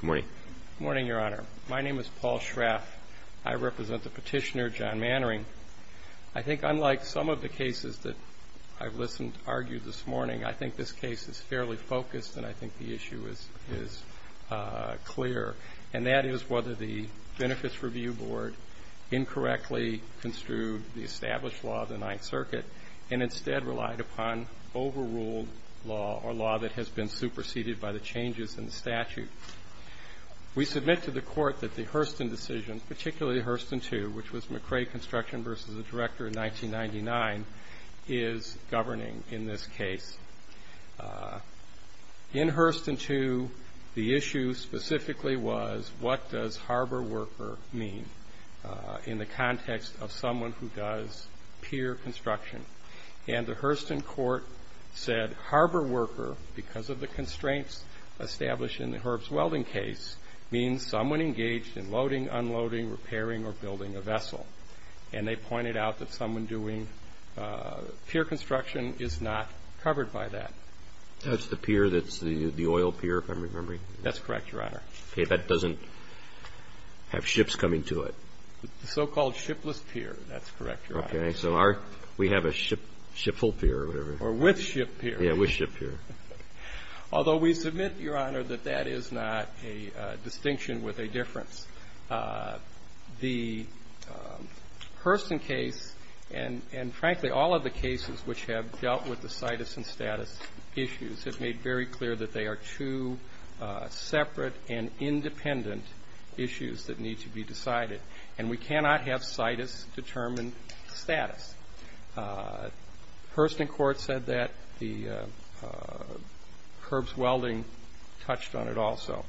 Good morning. Good morning, Your Honor. My name is Paul Schraff. I represent the petitioner, John Mannering. I think unlike some of the cases that I've listened to argue this morning, I think this case is fairly focused and I think the issue is clear. And that is whether the Benefits Review Board incorrectly construed the established law of the Ninth Circuit and instead relied upon overruled law or law that has been superseded by the changes in the statute We submit to the court that the Hurston decision, particularly Hurston 2, which was McCrae Construction v. the Director in 1999, is governing in this case. In Hurston 2, the issue specifically was what does harbor worker mean in the context of someone who does pier construction. And the Hurston court said harbor worker, because of the constraints established in the Herb's Welding case, means someone engaged in loading, unloading, repairing, or building a vessel. And they pointed out that someone doing pier construction is not covered by that. That's the pier that's the oil pier, if I'm remembering. That's correct, Your Honor. Okay. That doesn't have ships coming to it. The so-called shipless pier. That's correct, Your Honor. Okay. So we have a ship full pier or whatever. Or with ship pier. Yeah, with ship pier. Although we submit, Your Honor, that that is not a distinction with a difference. The Hurston case and, frankly, all of the cases which have dealt with the situs and status issues have made very clear that they are two separate and independent issues that need to be decided. And we cannot have situs determine status. Hurston court said that. The Herb's Welding touched on it also.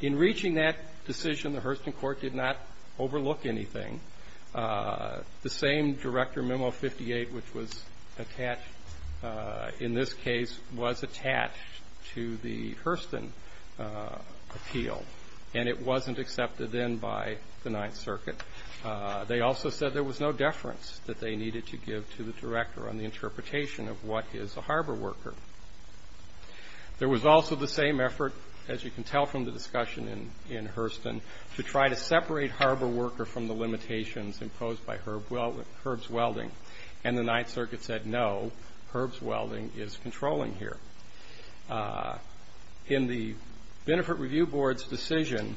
In reaching that decision, the Hurston court did not overlook anything. The same Director Memo 58, which was attached in this case, was attached to the Hurston appeal. And it wasn't accepted then by the Ninth Circuit. They also said there was no deference that they needed to give to the Director on the interpretation of what is a harbor worker. There was also the same effort, as you can tell from the discussion in Hurston, to try to separate harbor worker from the limitations imposed by Herb's Welding. And the Ninth Circuit said, no, Herb's Welding is controlling here. In the Benefit Review Board's decision,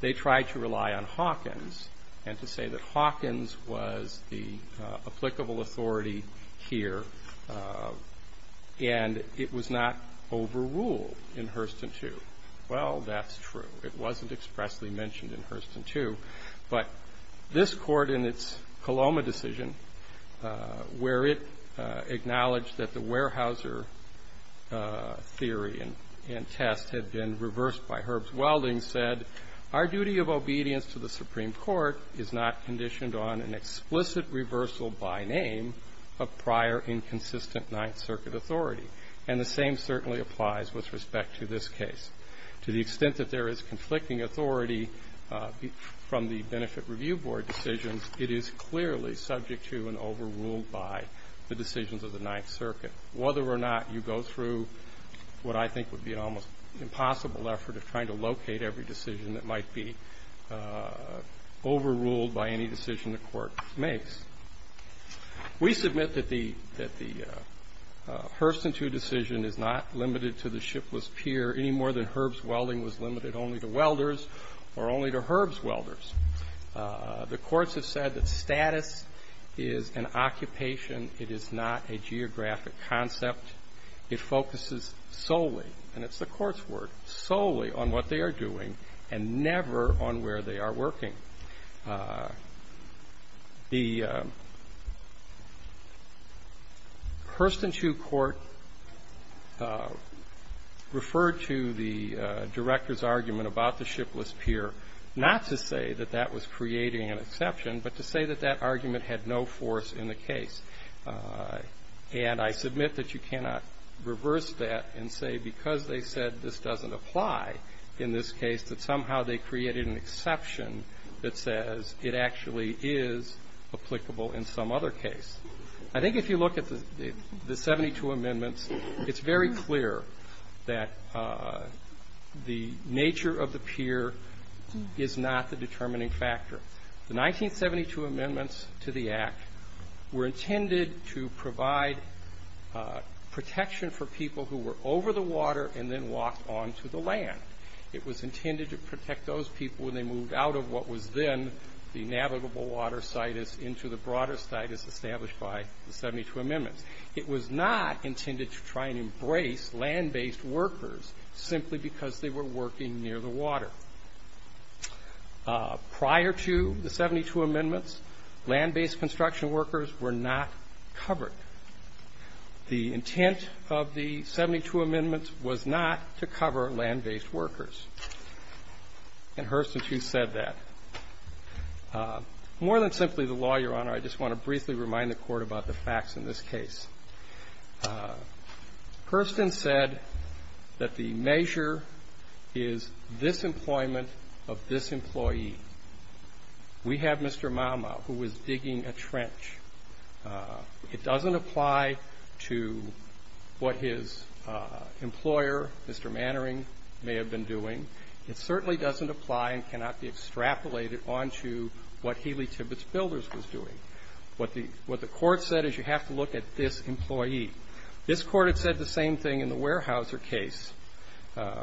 they tried to rely on Hawkins and to say that Hawkins was the applicable authority here and it was not overruled in Hurston 2. Well, that's true. It wasn't expressly mentioned in Hurston 2. But this Court in its Coloma decision, where it acknowledged that the Weyerhaeuser theory and test had been reversed by Herb's Welding, said, our duty of obedience to the Supreme Court is not conditioned on an explicit reversal by name of prior inconsistent Ninth Circuit authority. And the same certainly applies with respect to this case. To the extent that there is conflicting authority from the Benefit Review Board decisions, it is clearly subject to and overruled by the decisions of the Ninth Circuit. Whether or not you go through what I think would be an almost impossible effort of trying to locate every decision that might be overruled by any decision the Court makes. We submit that the Hurston 2 decision is not limited to the shipless pier any more than Herb's Welding was limited only to welders or only to Herb's welders. The courts have said that status is an occupation. It is not a geographic concept. It focuses solely, and it's the Court's word, solely on what they are doing and never on where they are working. The Hurston 2 Court referred to the Director's argument about the shipless pier, not to say that that was creating an exception, but to say that that argument had no force in the case. And I submit that you cannot reverse that and say because they said this doesn't apply in this case that somehow they created an exception that says it actually is applicable in some other case. I think if you look at the 72 amendments, it's very clear that the nature of the pier is not the determining factor. The 1972 amendments to the Act were intended to provide protection for people who were over the water and then walked onto the land. It was intended to protect those people when they moved out of what was then the navigable water site into the broader site as established by the 72 amendments. It was not intended to try and embrace land-based workers simply because they were working near the water. Prior to the 72 amendments, land-based construction workers were not covered. The intent of the 72 amendments was not to cover land-based workers. And Hurston 2 said that. More than simply the law, Your Honor, I just want to briefly remind the Court about the facts in this case. Hurston said that the measure is disemployment of this employee. We have Mr. Malma who was digging a trench. It doesn't apply to what his employer, Mr. Mannering, may have been doing. It certainly doesn't apply and cannot be extrapolated onto what Healy Tibbetts Builders was doing. What the Court said is you have to look at this employee. This Court had said the same thing in the Weyerhaeuser case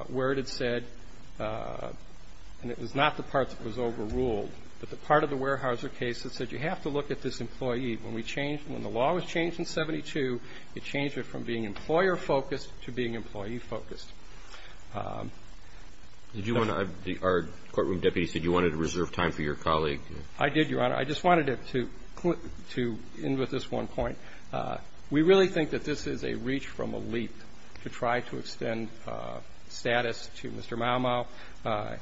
where it had said, and it was not the part that was overruled, but the part of the Weyerhaeuser case that said you have to look at this employee. When we changed, when the law was changed in 72, it changed it from being employer-focused to being employee-focused. Did you want to, our courtroom deputy said you wanted to reserve time for your colleague. I did, Your Honor. I just wanted to end with this one point. We really think that this is a reach from a leap to try to extend status to Mr. Malma.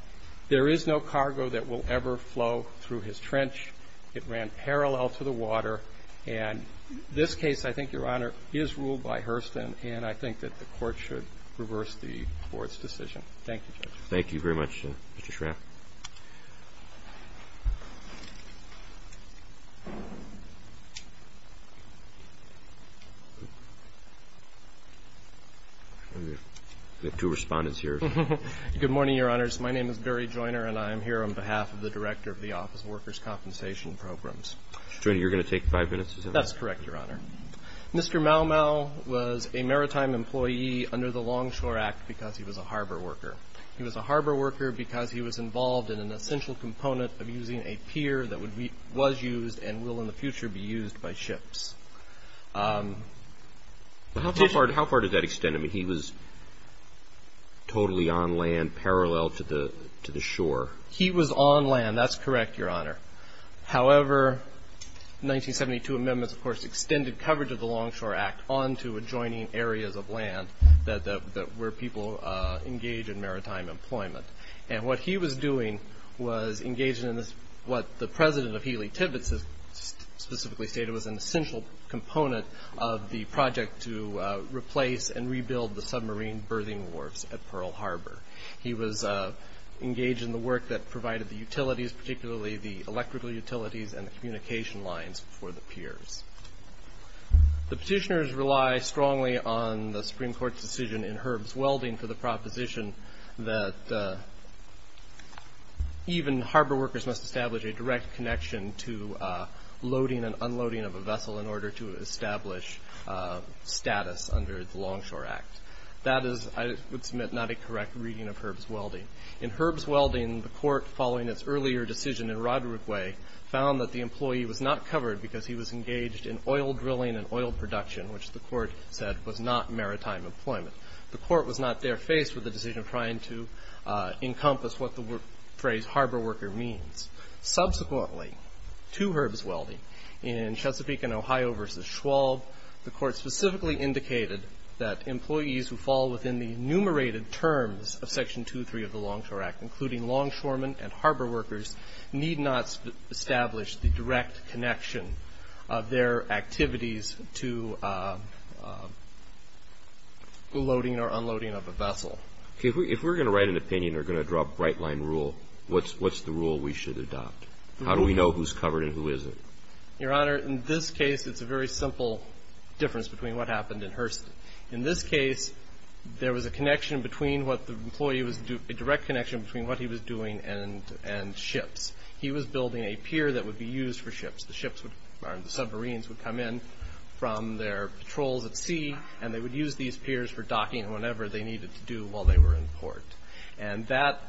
There is no cargo that will ever flow through his trench. It ran parallel to the water. And this case, I think, Your Honor, is ruled by Hurston, and I think that the Court should reverse the Court's decision. Thank you, Judge. Thank you very much, Mr. Schrapp. We have two respondents here. Good morning, Your Honors. My name is Barry Joiner, and I am here on behalf of the Director of the Office of Workers' Compensation Programs. Joiner, you're going to take five minutes. That's correct, Your Honor. Mr. Malma was a maritime employee under the Longshore Act because he was a harbor worker. He was a harbor worker because he was involved in an essential component of using a pier that was used and will in the future be used by ships. How far did that extend? I mean, he was totally on land parallel to the shore. He was on land. That's correct, Your Honor. However, the 1972 amendments, of course, extended coverage of the Longshore Act onto adjoining areas of land where people engage in maritime employment. And what he was doing was engaging in what the President of Healy Tibbets has specifically stated that it was an essential component of the project to replace and rebuild the submarine berthing wharfs at Pearl Harbor. He was engaged in the work that provided the utilities, particularly the electrical utilities and the communication lines for the piers. The petitioners rely strongly on the Supreme Court's decision in Herb's Welding for the proposition that even harbor workers must establish a direct connection to loading and unloading of a vessel in order to establish status under the Longshore Act. That is, I would submit, not a correct reading of Herb's Welding. In Herb's Welding, the court, following its earlier decision in Rodrigue, found that the employee was not covered because he was engaged in oil drilling and oil production, which the court said was not maritime employment. The court was not there faced with the decision trying to encompass what the phrase harbor worker means. Subsequently, to Herb's Welding, in Chesapeake and Ohio v. Schwab, the court specifically indicated that employees who fall within the enumerated terms of Section 2.3 of the Longshore Act, including longshoremen and harbor workers, need not establish the direct connection of their activities to loading or unloading of a vessel. If we're going to write an opinion or going to draw a bright-line rule, what's the rule we should adopt? How do we know who's covered and who isn't? Your Honor, in this case, it's a very simple difference between what happened in Hurston. In this case, there was a direct connection between what he was doing and ships. He was building a pier that would be used for ships. The submarines would come in from their patrols at sea, and they would use these piers for docking whenever they needed to do while they were in port.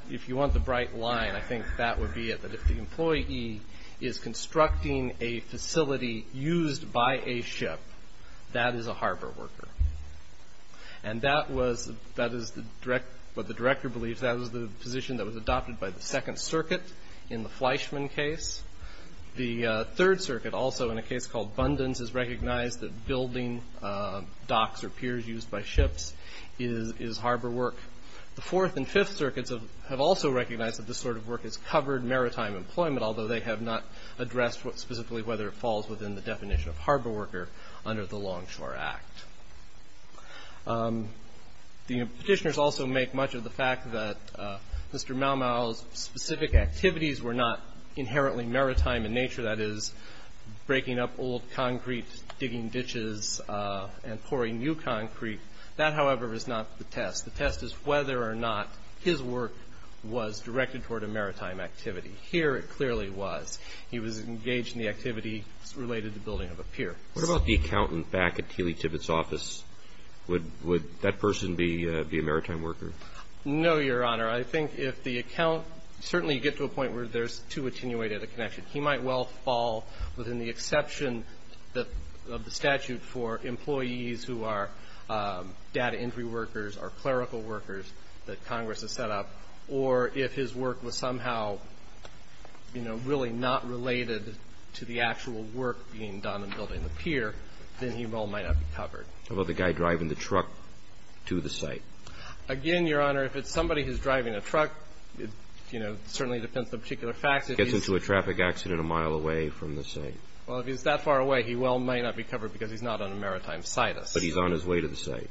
If you want the bright line, I think that would be it. If the employee is constructing a facility used by a ship, that is a harbor worker. And that is what the director believes. That is the position that was adopted by the Second Circuit in the Fleischman case. The Third Circuit also, in a case called Bundens, has recognized that building docks or piers used by ships is harbor work. The Fourth and Fifth Circuits have also recognized that this sort of work has covered maritime employment, although they have not addressed specifically whether it falls within the definition of harbor worker under the Longshore Act. The Petitioners also make much of the fact that Mr. Maumau's specific activities were not inherently maritime in nature. That is, breaking up old concrete, digging ditches, and pouring new concrete. That, however, is not the test. The test is whether or not his work was directed toward a maritime activity. Here, it clearly was. He was engaged in the activity related to building of a pier. What about the accountant back at Tilly Tibbetts' office? Would that person be a maritime worker? No, Your Honor. I think if the account – certainly you get to a point where there's too attenuated a connection. He might well fall within the exception of the statute for employees who are data entry workers or clerical workers that Congress has set up. Or if his work was somehow, you know, really not related to the actual work being done in building the pier, then he well might not be covered. How about the guy driving the truck to the site? Again, Your Honor, if it's somebody who's driving a truck, you know, it certainly depends on particular facts. If he gets into a traffic accident a mile away from the site. Well, if he's that far away, he well might not be covered because he's not on a maritime situs. But he's on his way to the site.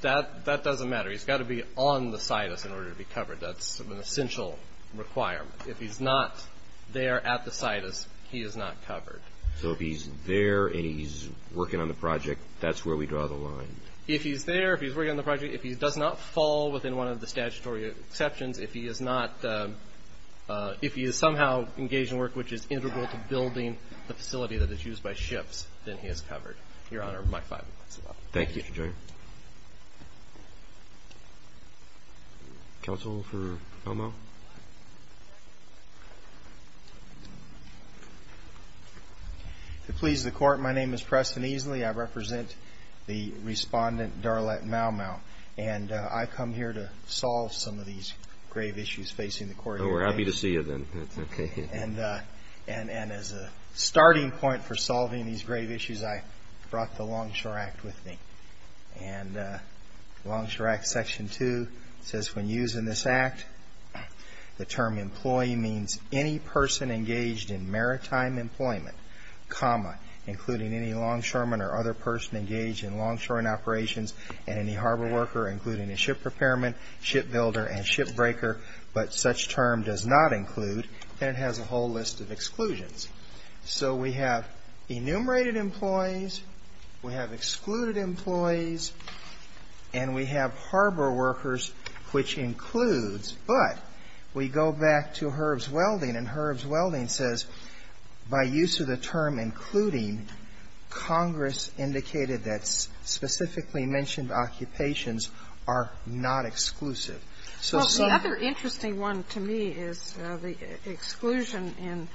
That doesn't matter. He's got to be on the situs in order to be covered. That's an essential requirement. If he's not there at the situs, he is not covered. So if he's there and he's working on the project, that's where we draw the line. If he's there, if he's working on the project, if he does not fall within one of the statutory exceptions, if he is somehow engaged in work which is integral to building the facility that is used by ships, then he is covered. Your Honor, my five minutes are up. Thank you, Mr. Joyner. Counsel for Maumau? To please the Court, my name is Preston Easley. I represent the respondent, Darlette Maumau. And I've come here to solve some of these grave issues facing the Court. We're happy to see you then. And as a starting point for solving these grave issues, I brought the Longshore Act with me. And Longshore Act Section 2 says, When using this Act, the term employee means any person engaged in maritime employment, including any longshoreman or other person engaged in longshore operations and any harbor worker, including a ship repairman, shipbuilder, and shipbreaker. But such term does not include, and it has a whole list of exclusions. So we have enumerated employees. We have excluded employees. And we have harbor workers, which includes, but we go back to Herb's Welding. And Herb's Welding says, By use of the term including, Congress indicated that specifically mentioned occupations are not exclusive. Well, the other interesting one to me is the exclusion in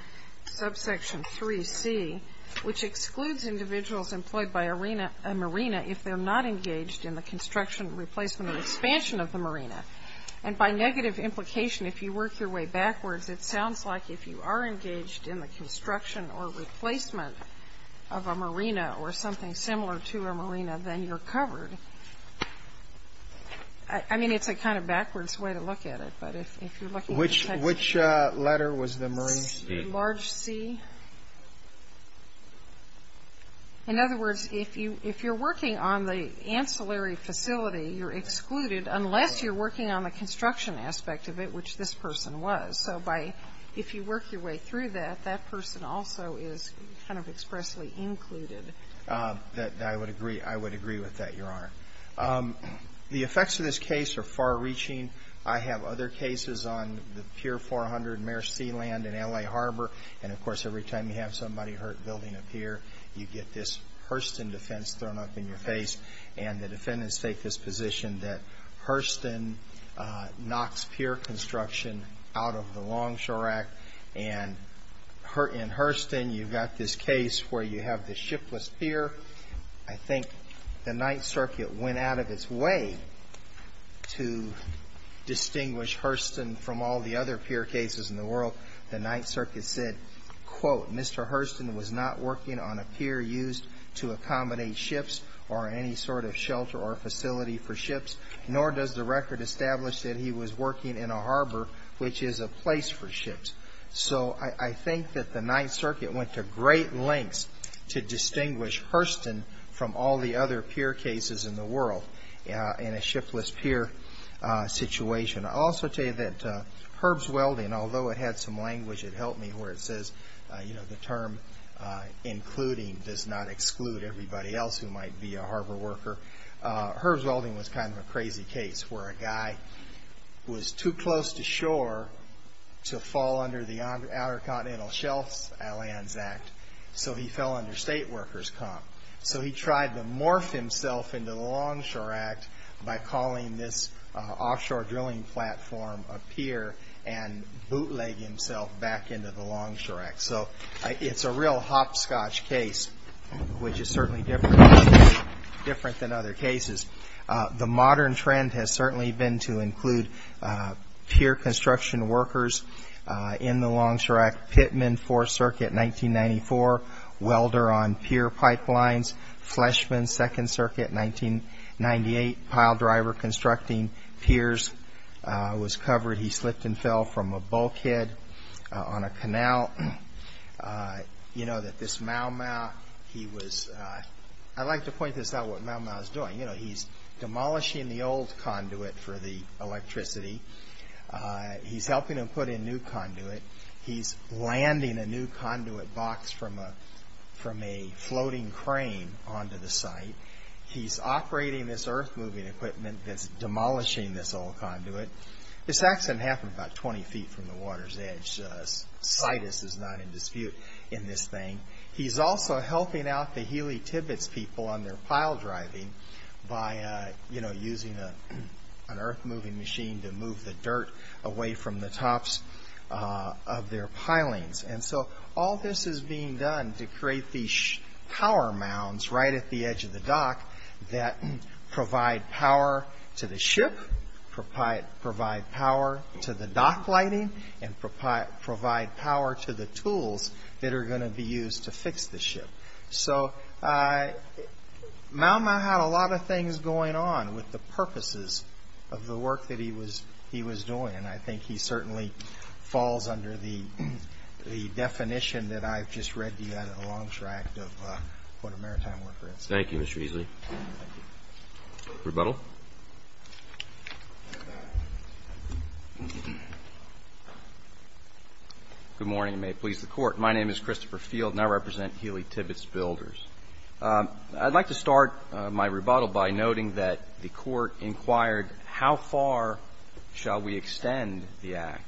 Subsection 3C, which excludes individuals employed by a marina if they're not engaged in the construction, replacement, and expansion of the marina. And by negative implication, if you work your way backwards, it sounds like if you are engaged in the construction or replacement of a marina or something similar to a marina, then you're covered. I mean, it's a kind of backwards way to look at it. But if you're looking at the text. Which letter was the marina? Large C. In other words, if you're working on the ancillary facility, you're excluded unless you're working on the construction aspect of it, which this person was. So by, if you work your way through that, that person also is kind of expressly included. I would agree. I would agree with that, Your Honor. The effects of this case are far-reaching. I have other cases on the Pier 400 mare sealand in L.A. Harbor. And, of course, every time you have somebody hurt building a pier, you get this Hurston defense thrown up in your face. And the defendants take this position that Hurston knocks pier construction out of the Longshore Act. And in Hurston, you've got this case where you have this shipless pier. I think the Ninth Circuit went out of its way to distinguish Hurston from all the other pier cases in the world. The Ninth Circuit said, quote, Mr. Hurston was not working on a pier used to accommodate ships or any sort of shelter or facility for ships, nor does the record establish that he was working in a harbor, which is a place for ships. So I think that the Ninth Circuit went to great lengths to distinguish Hurston from all the other pier cases in the world in a shipless pier situation. I'll also tell you that Herb's Welding, although it had some language, it helped me, where it says, you know, the term including does not exclude everybody else who might be a harbor worker. Herb's Welding was kind of a crazy case where a guy was too close to shore to fall under the Outer Continental Shelf Lands Act, so he fell under state workers' comp. So he tried to morph himself into the Longshore Act by calling this offshore drilling platform a pier and bootleg himself back into the Longshore Act. So it's a real hopscotch case, which is certainly different than other cases. The modern trend has certainly been to include pier construction workers in the Longshore Act. Pittman, Fourth Circuit, 1994, welder on pier pipelines. Fleshman, Second Circuit, 1998, pile driver constructing piers was covered. He slipped and fell from a bulkhead on a canal. You know that this Mau-Mau, he was, I like to point this out, what Mau-Mau is doing. You know, he's demolishing the old conduit for the electricity. He's helping them put in a new conduit. He's landing a new conduit box from a floating crane onto the site. He's operating this earth-moving equipment that's demolishing this old conduit. This accident happened about 20 feet from the water's edge. Situs is not in dispute in this thing. He's also helping out the Healy-Tibbets people on their pile driving by using an earth-moving machine to move the dirt away from the tops of their pilings. And so all this is being done to create these power mounds right at the edge of the dock that provide power to the ship, provide power to the dock lighting, and provide power to the tools that are going to be used to fix the ship. So Mau-Mau had a lot of things going on with the purposes of the work that he was doing, and I think he certainly falls under the definition that I've just read to you out of the long track of what a maritime worker is. Thank you, Mr. Easley. Rebuttal. Good morning, and may it please the Court. My name is Christopher Field, and I represent Healy-Tibbets Builders. I'd like to start my rebuttal by noting that the Court inquired how far shall we extend the act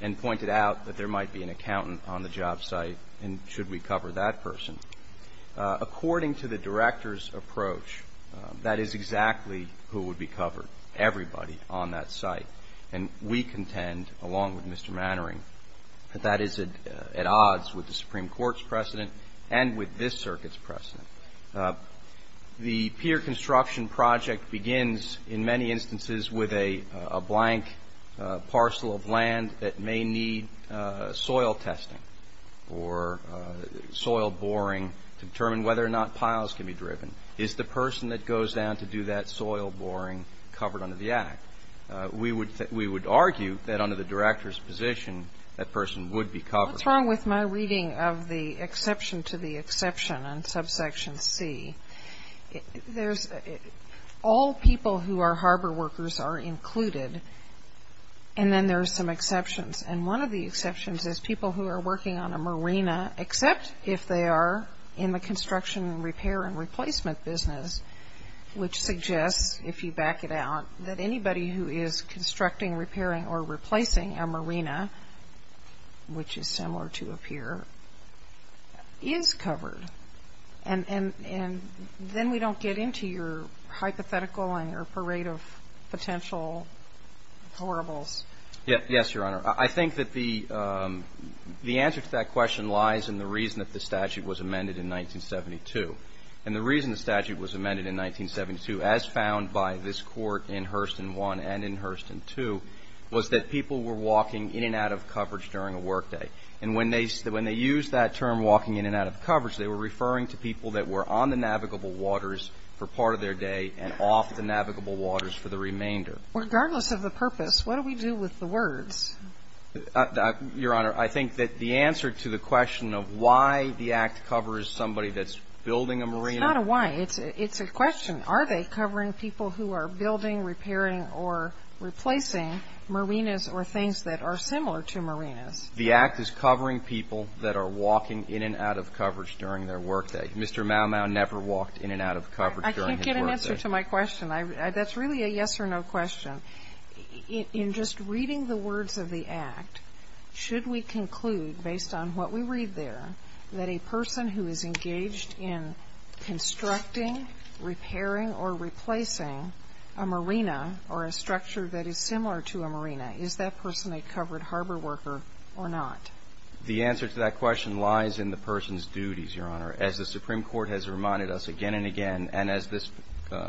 and pointed out that there might be an accountant on the job site, and should we cover that person. According to the director's approach, that is exactly who would be covered, everybody on that site. And we contend, along with Mr. Mannering, that that is at odds with the Supreme Court's precedent and with this circuit's precedent. The pier construction project begins in many instances with a blank parcel of land that may need soil testing or soil boring to determine whether or not piles can be driven. Is the person that goes down to do that soil boring covered under the act? We would argue that under the director's position, that person would be covered. What's wrong with my reading of the exception to the exception in subsection C? There's all people who are harbor workers are included, and then there are some exceptions. And one of the exceptions is people who are working on a marina, except if they are in the construction and repair and replacement business, which suggests, if you back it out, that anybody who is constructing, repairing, or replacing a marina, which is similar to a pier, is covered. And then we don't get into your hypothetical and your parade of potential horribles. Yes, Your Honor. I think that the answer to that question lies in the reason that the statute was amended in 1972. And the reason the statute was amended in 1972, as found by this Court in Hurston I and in Hurston II, was that people were walking in and out of coverage during a workday. And when they used that term, walking in and out of coverage, they were referring to people that were on the navigable waters for part of their day and off the navigable waters for the remainder. Regardless of the purpose, what do we do with the words? Your Honor, I think that the answer to the question of why the act covers somebody that's building a marina. It's not a why. It's a question. Are they covering people who are building, repairing, or replacing marinas or things that are similar to marinas? The act is covering people that are walking in and out of coverage during their workday. Mr. Mau-Mau never walked in and out of coverage during his workday. I can't get an answer to my question. That's really a yes or no question. In just reading the words of the act, should we conclude, based on what we read there, that a person who is engaged in constructing, repairing, or replacing a marina or a structure that is similar to a marina, is that person a covered harbor worker or not? The answer to that question lies in the person's duties, Your Honor. As the Supreme Court has reminded us again and again, and as this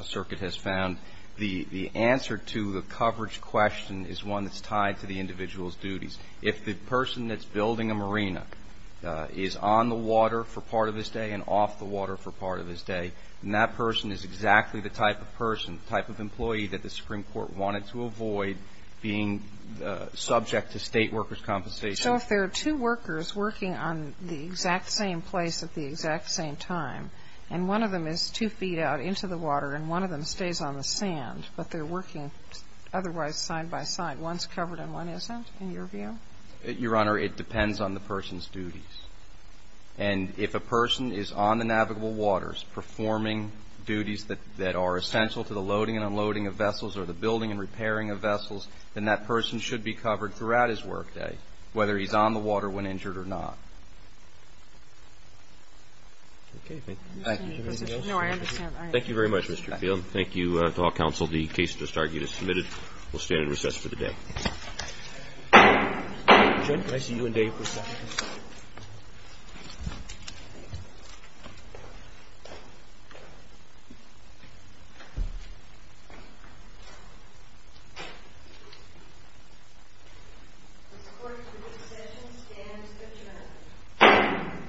circuit has found, the answer to the coverage question is one that's tied to the individual's If the person that's building a marina is on the water for part of his day and off the water for part of his day, then that person is exactly the type of person, type of employee, that the Supreme Court wanted to avoid being subject to State workers' compensation. So if there are two workers working on the exact same place at the exact same time, and one of them is two feet out into the water and one of them stays on the sand, but they're working otherwise side by side, then one is covered and one isn't, in your view? Your Honor, it depends on the person's duties. And if a person is on the navigable waters performing duties that are essential to the loading and unloading of vessels or the building and repairing of vessels, then that person should be covered throughout his workday, whether he's on the water when injured or not. Okay. Thank you. Anything else? No. I understand. Thank you very much, Mr. Field. Thank you to all counsel. The case is submitted. We'll stand in recess for the day. Judge, can I see you in day for a second, please? The Supreme Court's decision stands adjourned. The court is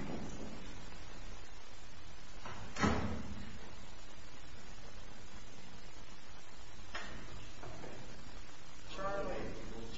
adjourned. The court is adjourned.